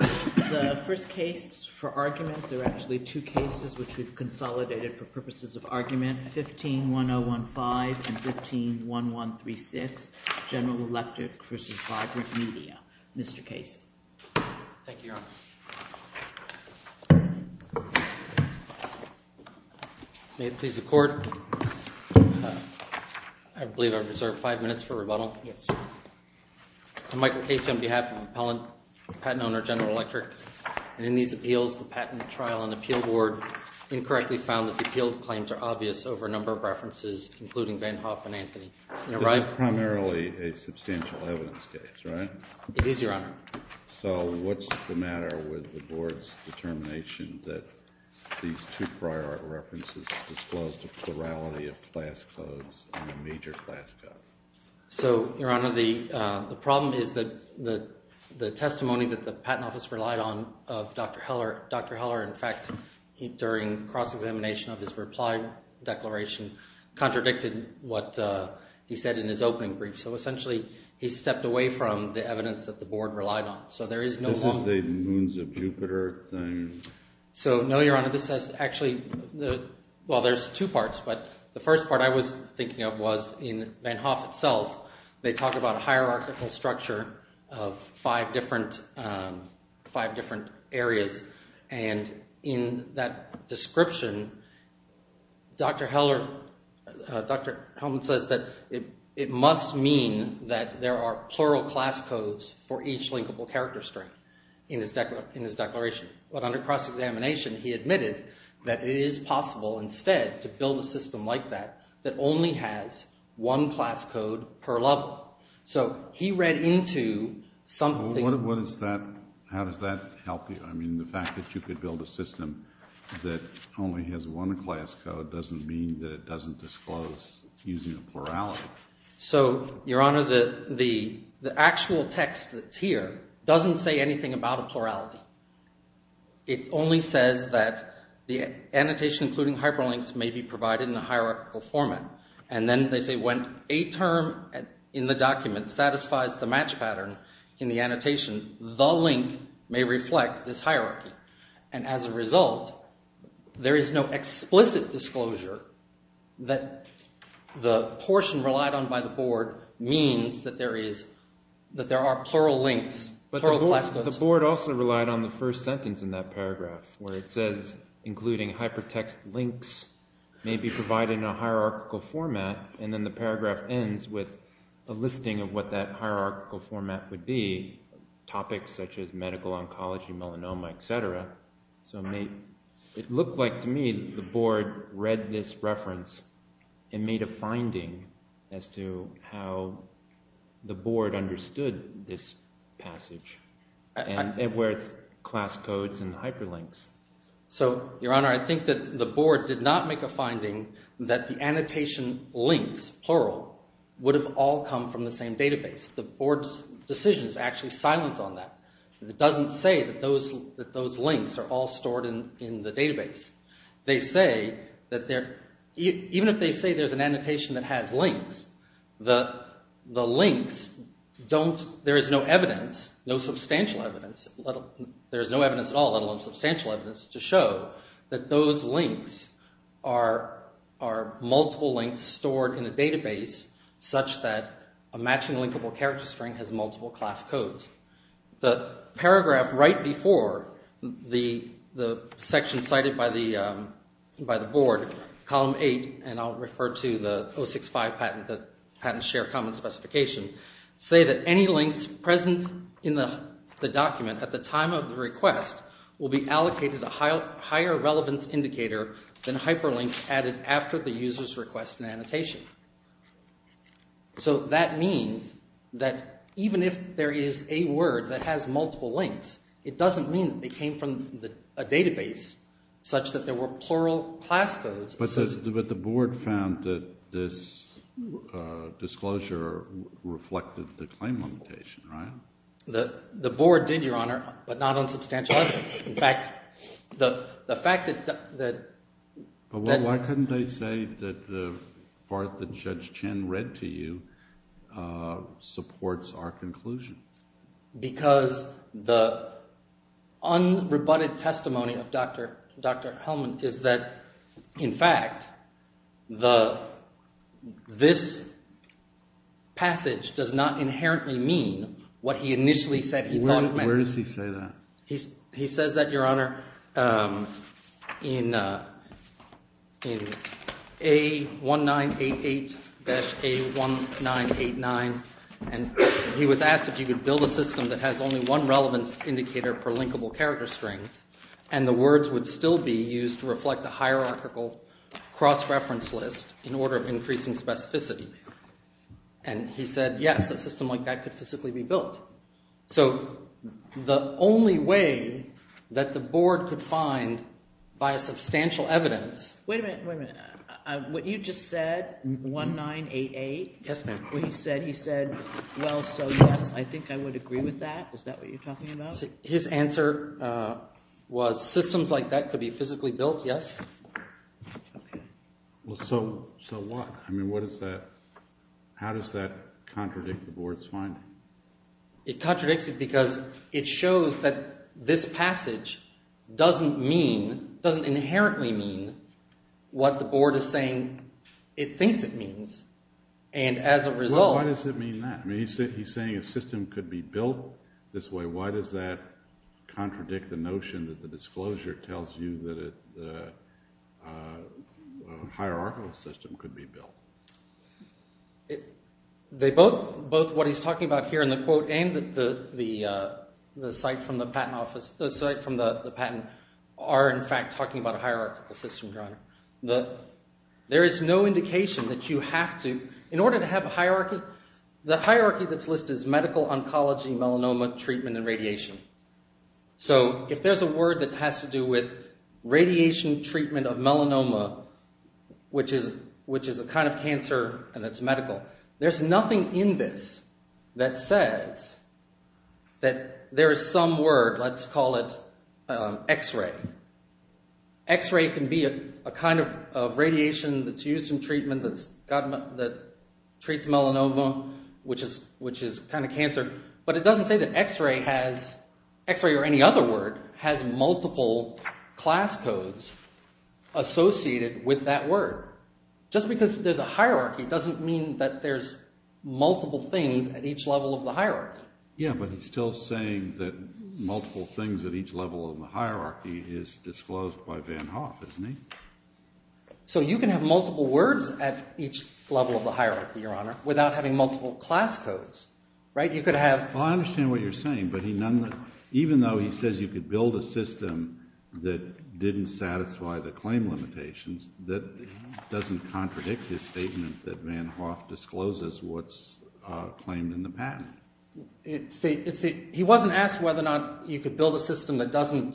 The first case for argument, there are actually two cases which we've consolidated for purposes of argument, 15-1015 and 15-1136, General Electric v. Vibrant Media. Mr. Casey. Thank you, Your Honor. May it please the Court, I believe I reserve five minutes for rebuttal. Yes, Your Honor. Michael Casey on behalf of the patent owner, General Electric. In these appeals, the Patent and Trial and Appeal Board incorrectly found that the appealed claims are obvious over a number of references, including Van Hoff and Anthony. It's primarily a substantial evidence case, right? It is, Your Honor. So what's the matter with the Board's determination that these two prior references disclose the plurality of class codes and the major class codes? So, Your Honor, the problem is that the testimony that the Patent Office relied on of Dr. Heller, in fact, during cross-examination of his reply declaration, contradicted what he said in his opening brief. So essentially, he stepped away from the evidence that the Board relied on. This is the moons of Jupiter thing. So, no, Your Honor, this is actually – well, there's two parts, but the first part I was thinking of was in Van Hoff itself. They talk about a hierarchical structure of five different areas, and in that description, Dr. Helmer says that it must mean that there are plural class codes for each linkable character string in his declaration. But under cross-examination, he admitted that it is possible instead to build a system like that that only has one class code per level. So he read into something – What is that – how does that help you? I mean, the fact that you could build a system that only has one class code doesn't mean that it doesn't disclose using a plurality. So, Your Honor, the actual text that's here doesn't say anything about a plurality. It only says that the annotation including hyperlinks may be provided in a hierarchical format. And then they say when a term in the document satisfies the match pattern in the annotation, the link may reflect this hierarchy. And as a result, there is no explicit disclosure that the portion relied on by the board means that there are plural links, plural class codes. But the board also relied on the first sentence in that paragraph where it says including hypertext links may be provided in a hierarchical format. And then the paragraph ends with a listing of what that hierarchical format would be, topics such as medical oncology, melanoma, etc. So it looked like to me the board read this reference and made a finding as to how the board understood this passage, where it's class codes and hyperlinks. So, Your Honor, I think that the board did not make a finding that the annotation links, plural, would have all come from the same database. The board's decision is actually silent on that. It doesn't say that those links are all stored in the database. Even if they say there's an annotation that has links, there is no evidence, no substantial evidence, there is no evidence at all, let alone substantial evidence, to show that those links are multiple links stored in a database such that a matching linkable character string has multiple class codes. The paragraph right before the section cited by the board, column 8, and I'll refer to the 065 patent share comment specification, say that any links present in the document at the time of the request will be allocated a higher relevance indicator than hyperlinks added after the user's request and annotation. So that means that even if there is a word that has multiple links, it doesn't mean that they came from a database such that there were plural class codes. But the board found that this disclosure reflected the claim limitation, right? The board did, Your Honor, but not on substantial evidence. In fact, the fact that – But why couldn't they say that the part that Judge Chin read to you supports our conclusion? Because the unrebutted testimony of Dr. Hellman is that, in fact, this passage does not inherently mean what he initially said he thought it meant. Where does he say that? He says that, Your Honor, in A1988-A1989, and he was asked if he could build a system that has only one relevance indicator for linkable character strings and the words would still be used to reflect a hierarchical cross-reference list in order of increasing specificity. And he said yes, a system like that could physically be built. So the only way that the board could find by a substantial evidence – Wait a minute, wait a minute. What you just said, A1988? Yes, ma'am. What he said, he said, well, so yes, I think I would agree with that. Is that what you're talking about? His answer was systems like that could be physically built, yes. Well, so what? I mean, what does that – how does that contradict the board's finding? It contradicts it because it shows that this passage doesn't mean – doesn't inherently mean what the board is saying it thinks it means. And as a result – Well, why does it mean that? I mean, he's saying a system could be built this way. Why does that contradict the notion that the disclosure tells you that a hierarchical system could be built? They both – both what he's talking about here in the quote and the site from the patent office – the site from the patent are in fact talking about a hierarchical system, John. There is no indication that you have to – in order to have a hierarchy, the hierarchy that's listed is medical, oncology, melanoma, treatment, and radiation. So if there's a word that has to do with radiation treatment of melanoma, which is a kind of cancer and it's medical, there's nothing in this that says that there is some word, let's call it x-ray. X-ray can be a kind of radiation that's used in treatment that treats melanoma, which is kind of cancer. But it doesn't say that x-ray has – x-ray or any other word has multiple class codes associated with that word. Just because there's a hierarchy doesn't mean that there's multiple things at each level of the hierarchy. Yeah, but he's still saying that multiple things at each level of the hierarchy is disclosed by Van Hoff, isn't he? So you can have multiple words at each level of the hierarchy, Your Honor, without having multiple class codes, right? You could have – Well, I understand what you're saying, but he – even though he says you could build a system that didn't satisfy the claim limitations, that doesn't contradict his statement that Van Hoff discloses what's claimed in the patent. He wasn't asked whether or not you could build a system that doesn't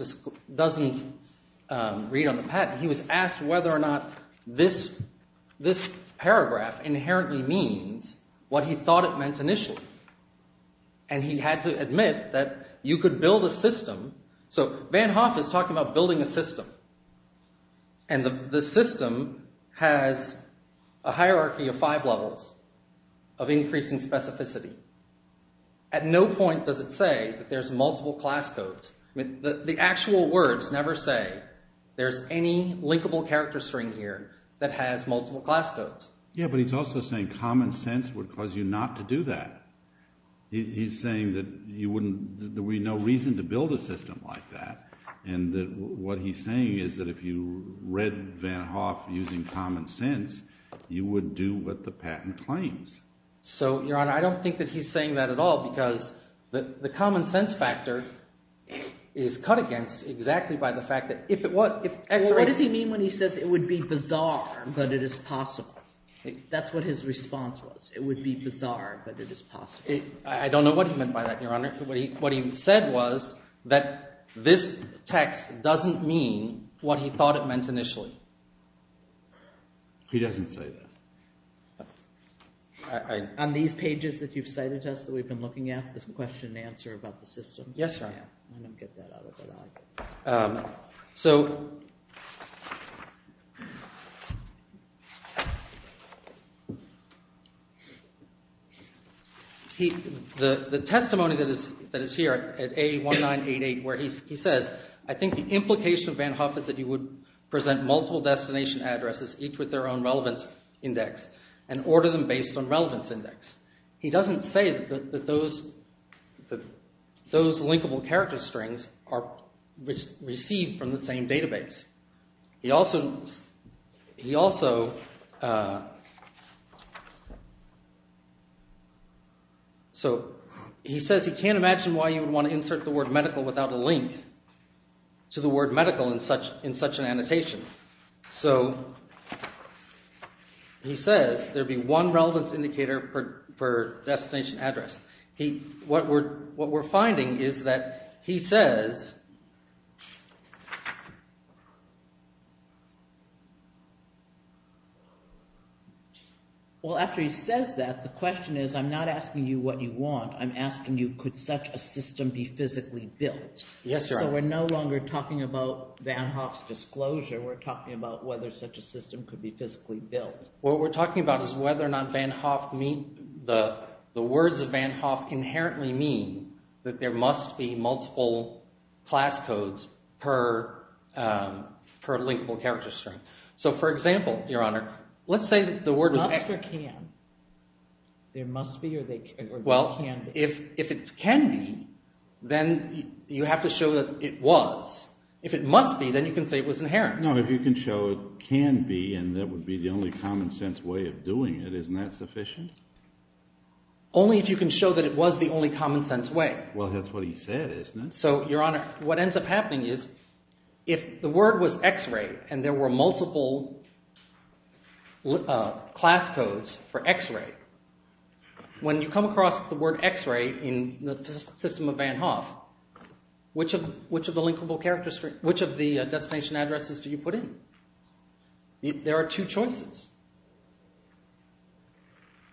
read on the patent. He was asked whether or not this paragraph inherently means what he thought it meant initially, and he had to admit that you could build a system – so Van Hoff is talking about building a system, and the system has a hierarchy of five levels of increasing specificity. At no point does it say that there's multiple class codes. The actual words never say there's any linkable character string here that has multiple class codes. Yeah, but he's also saying common sense would cause you not to do that. He's saying that you wouldn't – there would be no reason to build a system like that, and that what he's saying is that if you read Van Hoff using common sense, you would do what the patent claims. So, Your Honor, I don't think that he's saying that at all because the common sense factor is cut against exactly by the fact that if it was – Well, what does he mean when he says it would be bizarre but it is possible? That's what his response was. It would be bizarre but it is possible. I don't know what he meant by that, Your Honor. What he said was that this text doesn't mean what he thought it meant initially. He doesn't say that. On these pages that you've cited to us that we've been looking at, this question and answer about the system. Yes, sir. Let me get that out of the way. The testimony that is here at A1988 where he says, I think the implication of Van Hoff is that you would present multiple destination addresses, each with their own relevance index, and order them based on relevance index. He doesn't say that those linkable character strings are received from the same database. He says he can't imagine why you would want to insert the word medical without a link to the word medical in such an annotation. So, he says there'd be one relevance indicator per destination address. What we're finding is that he says… Well, after he says that, the question is I'm not asking you what you want. I'm asking you could such a system be physically built. Yes, Your Honor. So, we're no longer talking about Van Hoff's disclosure. We're talking about whether such a system could be physically built. What we're talking about is whether or not Van Hoff – the words of Van Hoff inherently mean that there must be multiple class codes per linkable character string. So, for example, Your Honor, let's say the word was… Must or can. There must be or there can be. If it can be, then you have to show that it was. If it must be, then you can say it was inherent. No, if you can show it can be and that would be the only common sense way of doing it, isn't that sufficient? Only if you can show that it was the only common sense way. Well, that's what he said, isn't it? So, Your Honor, what ends up happening is if the word was x-ray and there were multiple class codes for x-ray, when you come across the word x-ray in the system of Van Hoff, which of the destination addresses do you put in? There are two choices.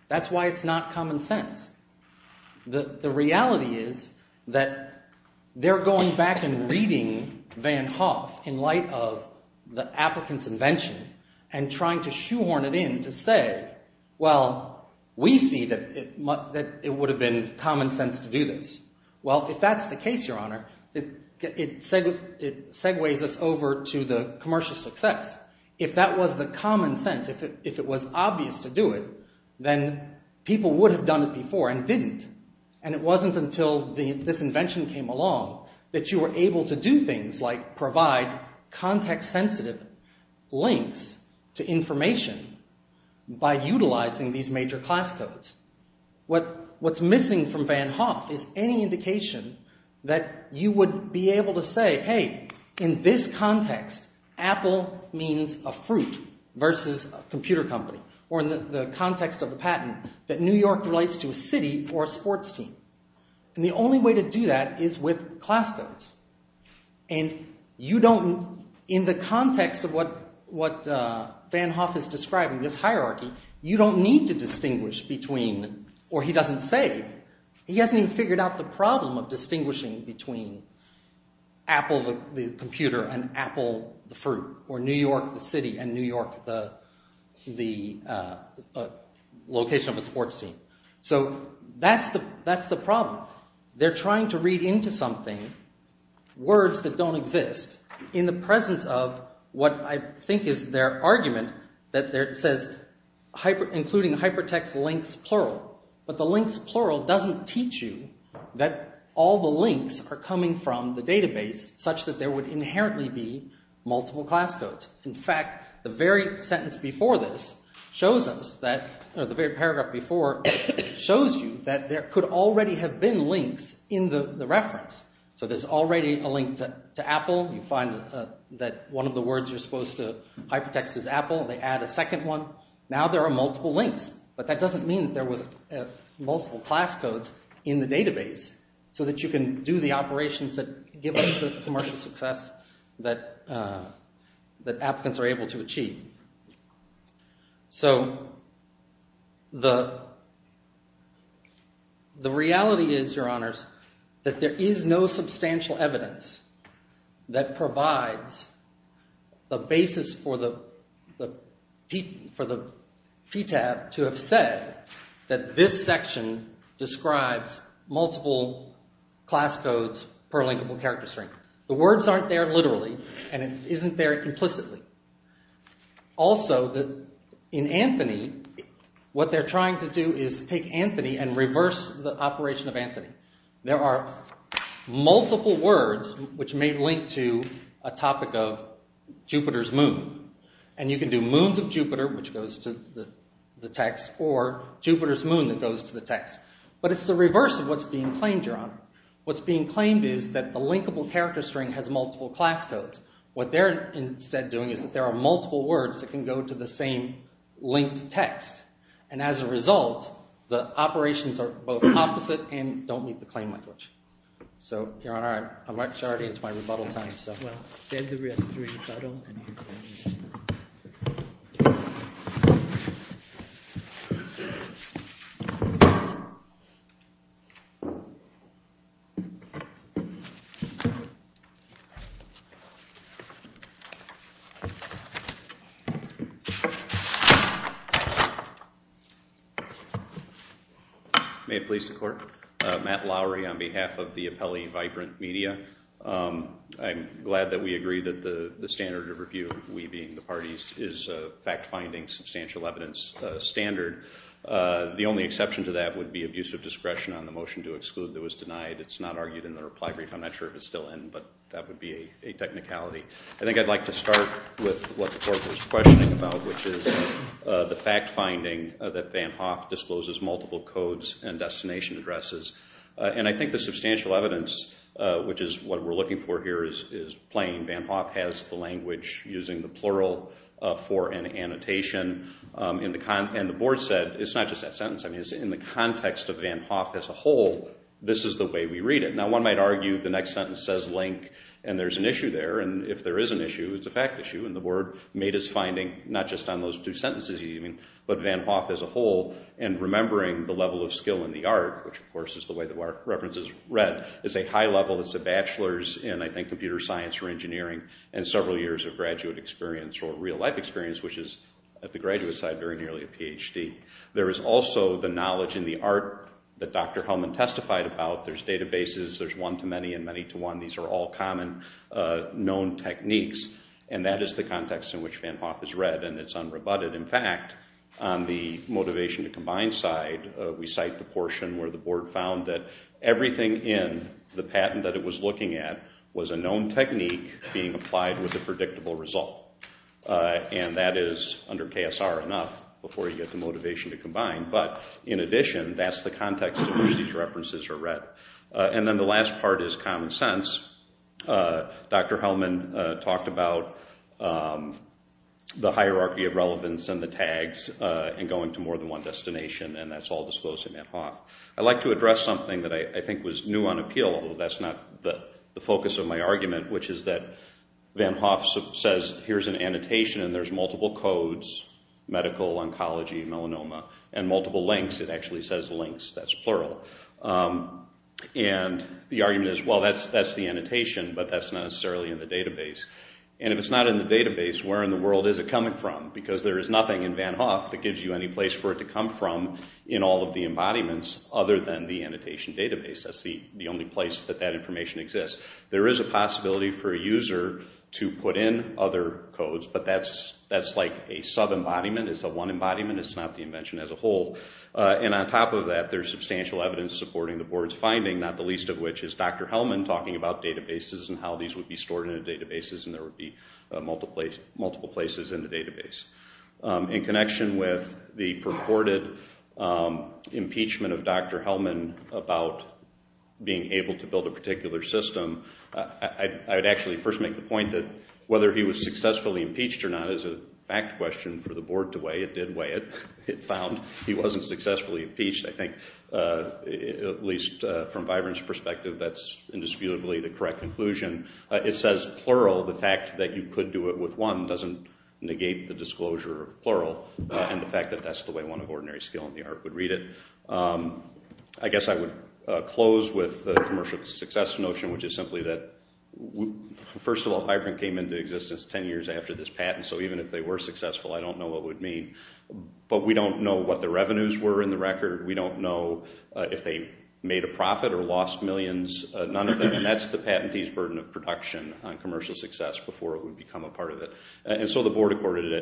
That's why it's not common sense. The reality is that they're going back and reading Van Hoff in light of the applicant's invention and trying to shoehorn it in to say, well, we see that it would have been common sense to do this. Well, if that's the case, Your Honor, it segues us over to the commercial success. If that was the common sense, if it was obvious to do it, then people would have done it before and didn't. And it wasn't until this invention came along that you were able to do things like provide context-sensitive links to information by utilizing these major class codes. What's missing from Van Hoff is any indication that you would be able to say, hey, in this context, Apple means a fruit versus a computer company. Or in the context of the patent, that New York relates to a city or a sports team. And the only way to do that is with class codes. And in the context of what Van Hoff is describing, this hierarchy, you don't need to distinguish between – or he doesn't say. He hasn't even figured out the problem of distinguishing between Apple, the computer, and Apple, the fruit, or New York, the city, and New York, the location of a sports team. So that's the problem. They're trying to read into something words that don't exist in the presence of what I think is their argument that says including hypertext links plural. But the links plural doesn't teach you that all the links are coming from the database such that there would inherently be multiple class codes. In fact, the very sentence before this shows us that – or the very paragraph before shows you that there could already have been links in the reference. So there's already a link to Apple. You find that one of the words you're supposed to hypertext is Apple. They add a second one. Now there are multiple links. But that doesn't mean that there was multiple class codes in the database so that you can do the operations that give us the commercial success that applicants are able to achieve. So the reality is, Your Honors, that there is no substantial evidence that provides the basis for the PTAB to have said that this section describes multiple class codes per linkable character string. The words aren't there literally and it isn't there implicitly. Also, in Anthony, what they're trying to do is take Anthony and reverse the operation of Anthony. There are multiple words which may link to a topic of Jupiter's moon. And you can do moons of Jupiter, which goes to the text, or Jupiter's moon that goes to the text. But it's the reverse of what's being claimed, Your Honor. What's being claimed is that the linkable character string has multiple class codes. What they're instead doing is that there are multiple words that can go to the same linked text. And as a result, the operations are both opposite and don't meet the claim language. So, Your Honor, I'm actually already into my rebuttal time. Well, save the rest for your rebuttal. Matt Lowry on behalf of the Appellee Vibrant Media. I'm glad that we agree that the standard of review, we being the parties, is fact-finding, substantial evidence standard. The only exception to that would be abuse of discretion on the motion to exclude that was denied. It's not argued in the reply brief. I'm not sure if it's still in, but that would be a technicality. I think I'd like to start with what the Court was questioning about, which is the fact-finding that Van Hoff discloses multiple codes and destination addresses. And I think the substantial evidence, which is what we're looking for here, is plain. Van Hoff has the language using the plural for an annotation. And the Board said, it's not just that sentence. In the context of Van Hoff as a whole, this is the way we read it. Now, one might argue the next sentence says link, and there's an issue there. And if there is an issue, it's a fact issue. And the Board made its finding not just on those two sentences, even, but Van Hoff as a whole. And remembering the level of skill in the art, which, of course, is the way the reference is read, is a high level. It's a bachelor's in, I think, computer science or engineering and several years of graduate experience or real-life experience, which is at the graduate side during nearly a PhD. There is also the knowledge in the art that Dr. Hellman testified about. There's databases. There's one-to-many and many-to-one. These are all common known techniques. And that is the context in which Van Hoff is read, and it's unrebutted. In fact, on the motivation to combine side, we cite the portion where the Board found that everything in the patent that it was looking at was a known technique being applied with a predictable result. And that is, under KSR, enough before you get the motivation to combine. But in addition, that's the context in which these references are read. And then the last part is common sense. Dr. Hellman talked about the hierarchy of relevance and the tags and going to more than one destination, and that's all disclosed in Van Hoff. I'd like to address something that I think was new on appeal, although that's not the focus of my argument, which is that Van Hoff says, here's an annotation, and there's multiple codes, medical, oncology, melanoma, and multiple links. It actually says links. That's plural. And the argument is, well, that's the annotation, but that's not necessarily in the database. And if it's not in the database, where in the world is it coming from? Because there is nothing in Van Hoff that gives you any place for it to come from in all of the embodiments other than the annotation database. That's the only place that that information exists. There is a possibility for a user to put in other codes, but that's like a sub-embodiment. It's a one embodiment. It's not the invention as a whole. And on top of that, there's substantial evidence supporting the board's finding, not the least of which is Dr. Hellman talking about databases and how these would be stored in the databases and there would be multiple places in the database. In connection with the purported impeachment of Dr. Hellman about being able to build a particular system, I would actually first make the point that whether he was successfully impeached or not is a fact question for the board to weigh. It did weigh it. It found he wasn't successfully impeached. I think at least from Vibrant's perspective, that's indisputably the correct conclusion. It says plural. The fact that you could do it with one doesn't negate the disclosure of plural and the fact that that's the way one of ordinary skill in the art would read it. I guess I would close with the commercial success notion, which is simply that first of all, Vibrant came into existence 10 years after this patent, so even if they were successful, I don't know what it would mean, but we don't know what the revenues were in the record. We don't know if they made a profit or lost millions, none of them, and that's the patentee's burden of production on commercial success before it would become a part of it. And so the board accorded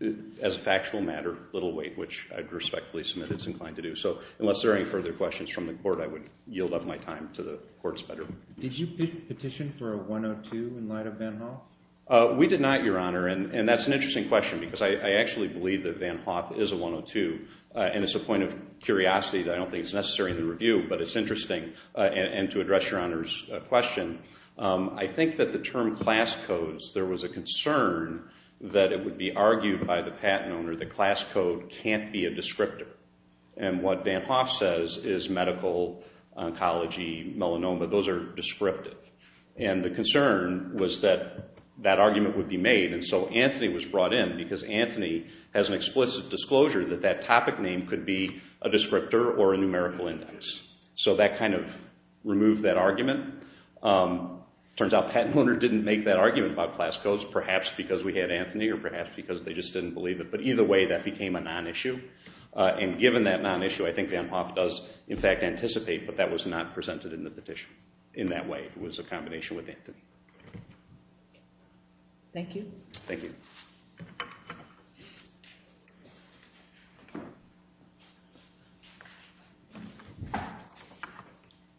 it as a factual matter, little weight, which I'd respectfully submit it's inclined to do. So unless there are any further questions from the court, I would yield up my time to the court's bedroom. Did you petition for a 102 in light of Ben Hall? We did not, Your Honor, and that's an interesting question because I actually believe that Van Hoff is a 102, and it's a point of curiosity that I don't think is necessary in the review, but it's interesting. And to address Your Honor's question, I think that the term class codes, there was a concern that it would be argued by the patent owner that class code can't be a descriptor, and what Van Hoff says is medical, oncology, melanoma, those are descriptive. And the concern was that that argument would be made, and so Anthony was brought in because Anthony has an explicit disclosure that that topic name could be a descriptor or a numerical index. So that kind of removed that argument. It turns out the patent owner didn't make that argument about class codes, perhaps because we had Anthony or perhaps because they just didn't believe it. But either way, that became a non-issue, and given that non-issue, I think Van Hoff does, in fact, anticipate, but that was not presented in the petition in that way. It was a combination with Anthony. Thank you. Thank you.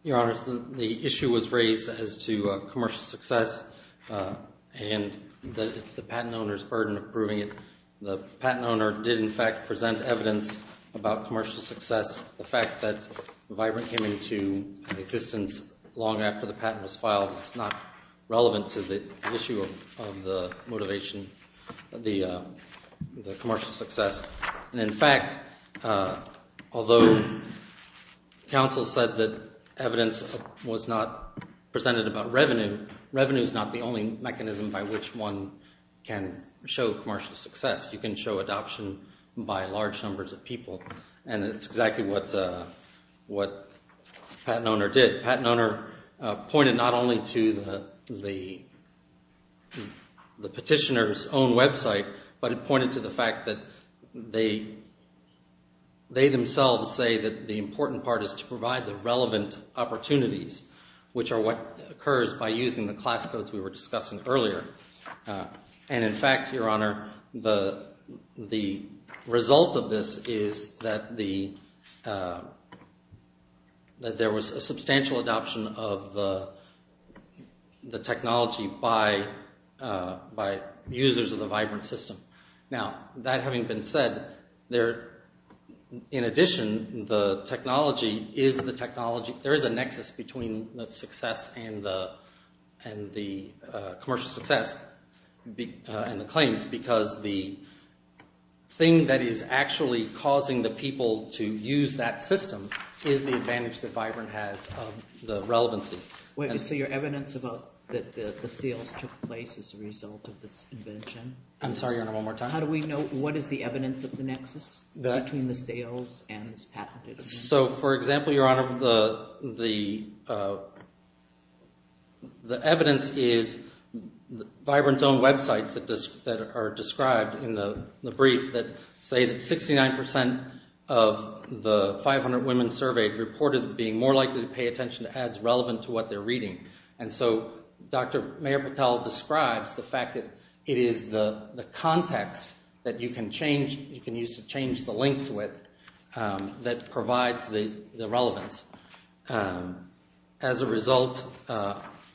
Your Honors, the issue was raised as to commercial success, and it's the patent owner's burden of proving it. The patent owner did, in fact, present evidence about commercial success. The fact that Vibrant came into existence long after the patent was filed is not relevant to the issue of the motivation, the commercial success. And, in fact, although counsel said that evidence was not presented about revenue, revenue is not the only mechanism by which one can show commercial success. You can show adoption by large numbers of people, and it's exactly what the patent owner did. The patent owner pointed not only to the petitioner's own website, but it pointed to the fact that they themselves say that the important part is to provide the relevant opportunities, which are what occurs by using the class codes we were discussing earlier. And, in fact, Your Honor, the result of this is that there was a substantial adoption of the technology by users of the Vibrant system. Now, that having been said, in addition, there is a nexus between the commercial success and the claims because the thing that is actually causing the people to use that system is the advantage that Vibrant has of the relevancy. So your evidence about the sales took place as a result of this invention? I'm sorry, Your Honor, one more time. How do we know what is the evidence of the nexus between the sales and this patent? So, for example, Your Honor, the evidence is Vibrant's own websites that are described in the brief that say that 69 percent of the 500 women surveyed reported being more likely to pay attention to ads relevant to what they're reading. And so Dr. Mayor Patel describes the fact that it is the context that you can use to change the links with that provides the relevance. As a result,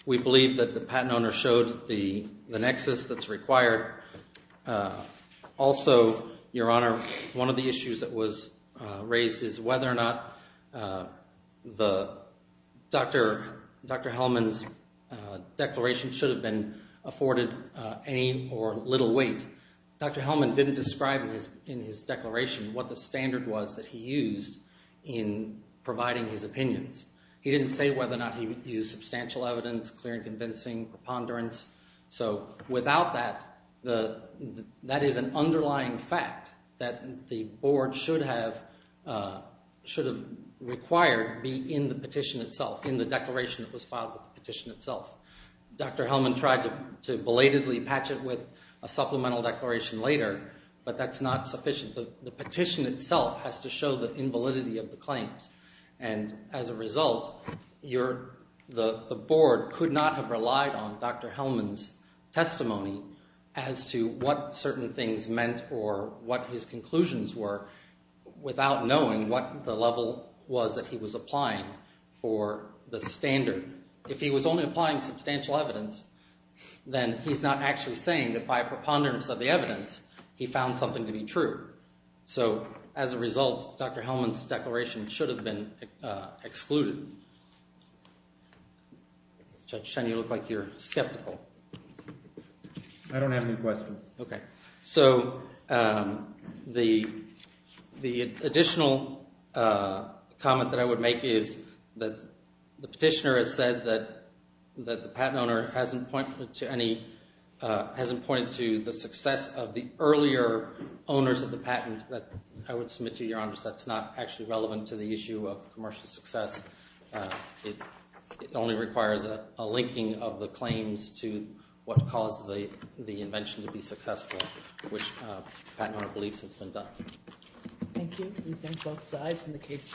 we believe that the patent owner showed the nexus that's required. Also, Your Honor, one of the issues that was raised is whether or not Dr. Hellman's declaration should have been afforded any or little weight. Dr. Hellman didn't describe in his declaration what the standard was that he used in providing his opinions. He didn't say whether or not he used substantial evidence, clear and convincing preponderance. So, without that, that is an underlying fact that the board should have required be in the petition itself, in the declaration that was filed with the petition itself. Dr. Hellman tried to belatedly patch it with a supplemental declaration later, but that's not sufficient. The petition itself has to show the invalidity of the claims. And as a result, the board could not have relied on Dr. Hellman's testimony as to what certain things meant or what his conclusions were without knowing what the level was that he was applying for the standard. If he was only applying substantial evidence, then he's not actually saying that by preponderance of the evidence, he found something to be true. So, as a result, Dr. Hellman's declaration should have been excluded. Judge Shen, you look like you're skeptical. I don't have any questions. So, the additional comment that I would make is that the petitioner has said that the patent owner hasn't pointed to the success of the earlier owners of the patent. I would submit to your honors that's not actually relevant to the issue of commercial success. It only requires a linking of the claims to what caused the invention to be successful, which the patent owner believes has been done. Thank you. We thank both sides in the case.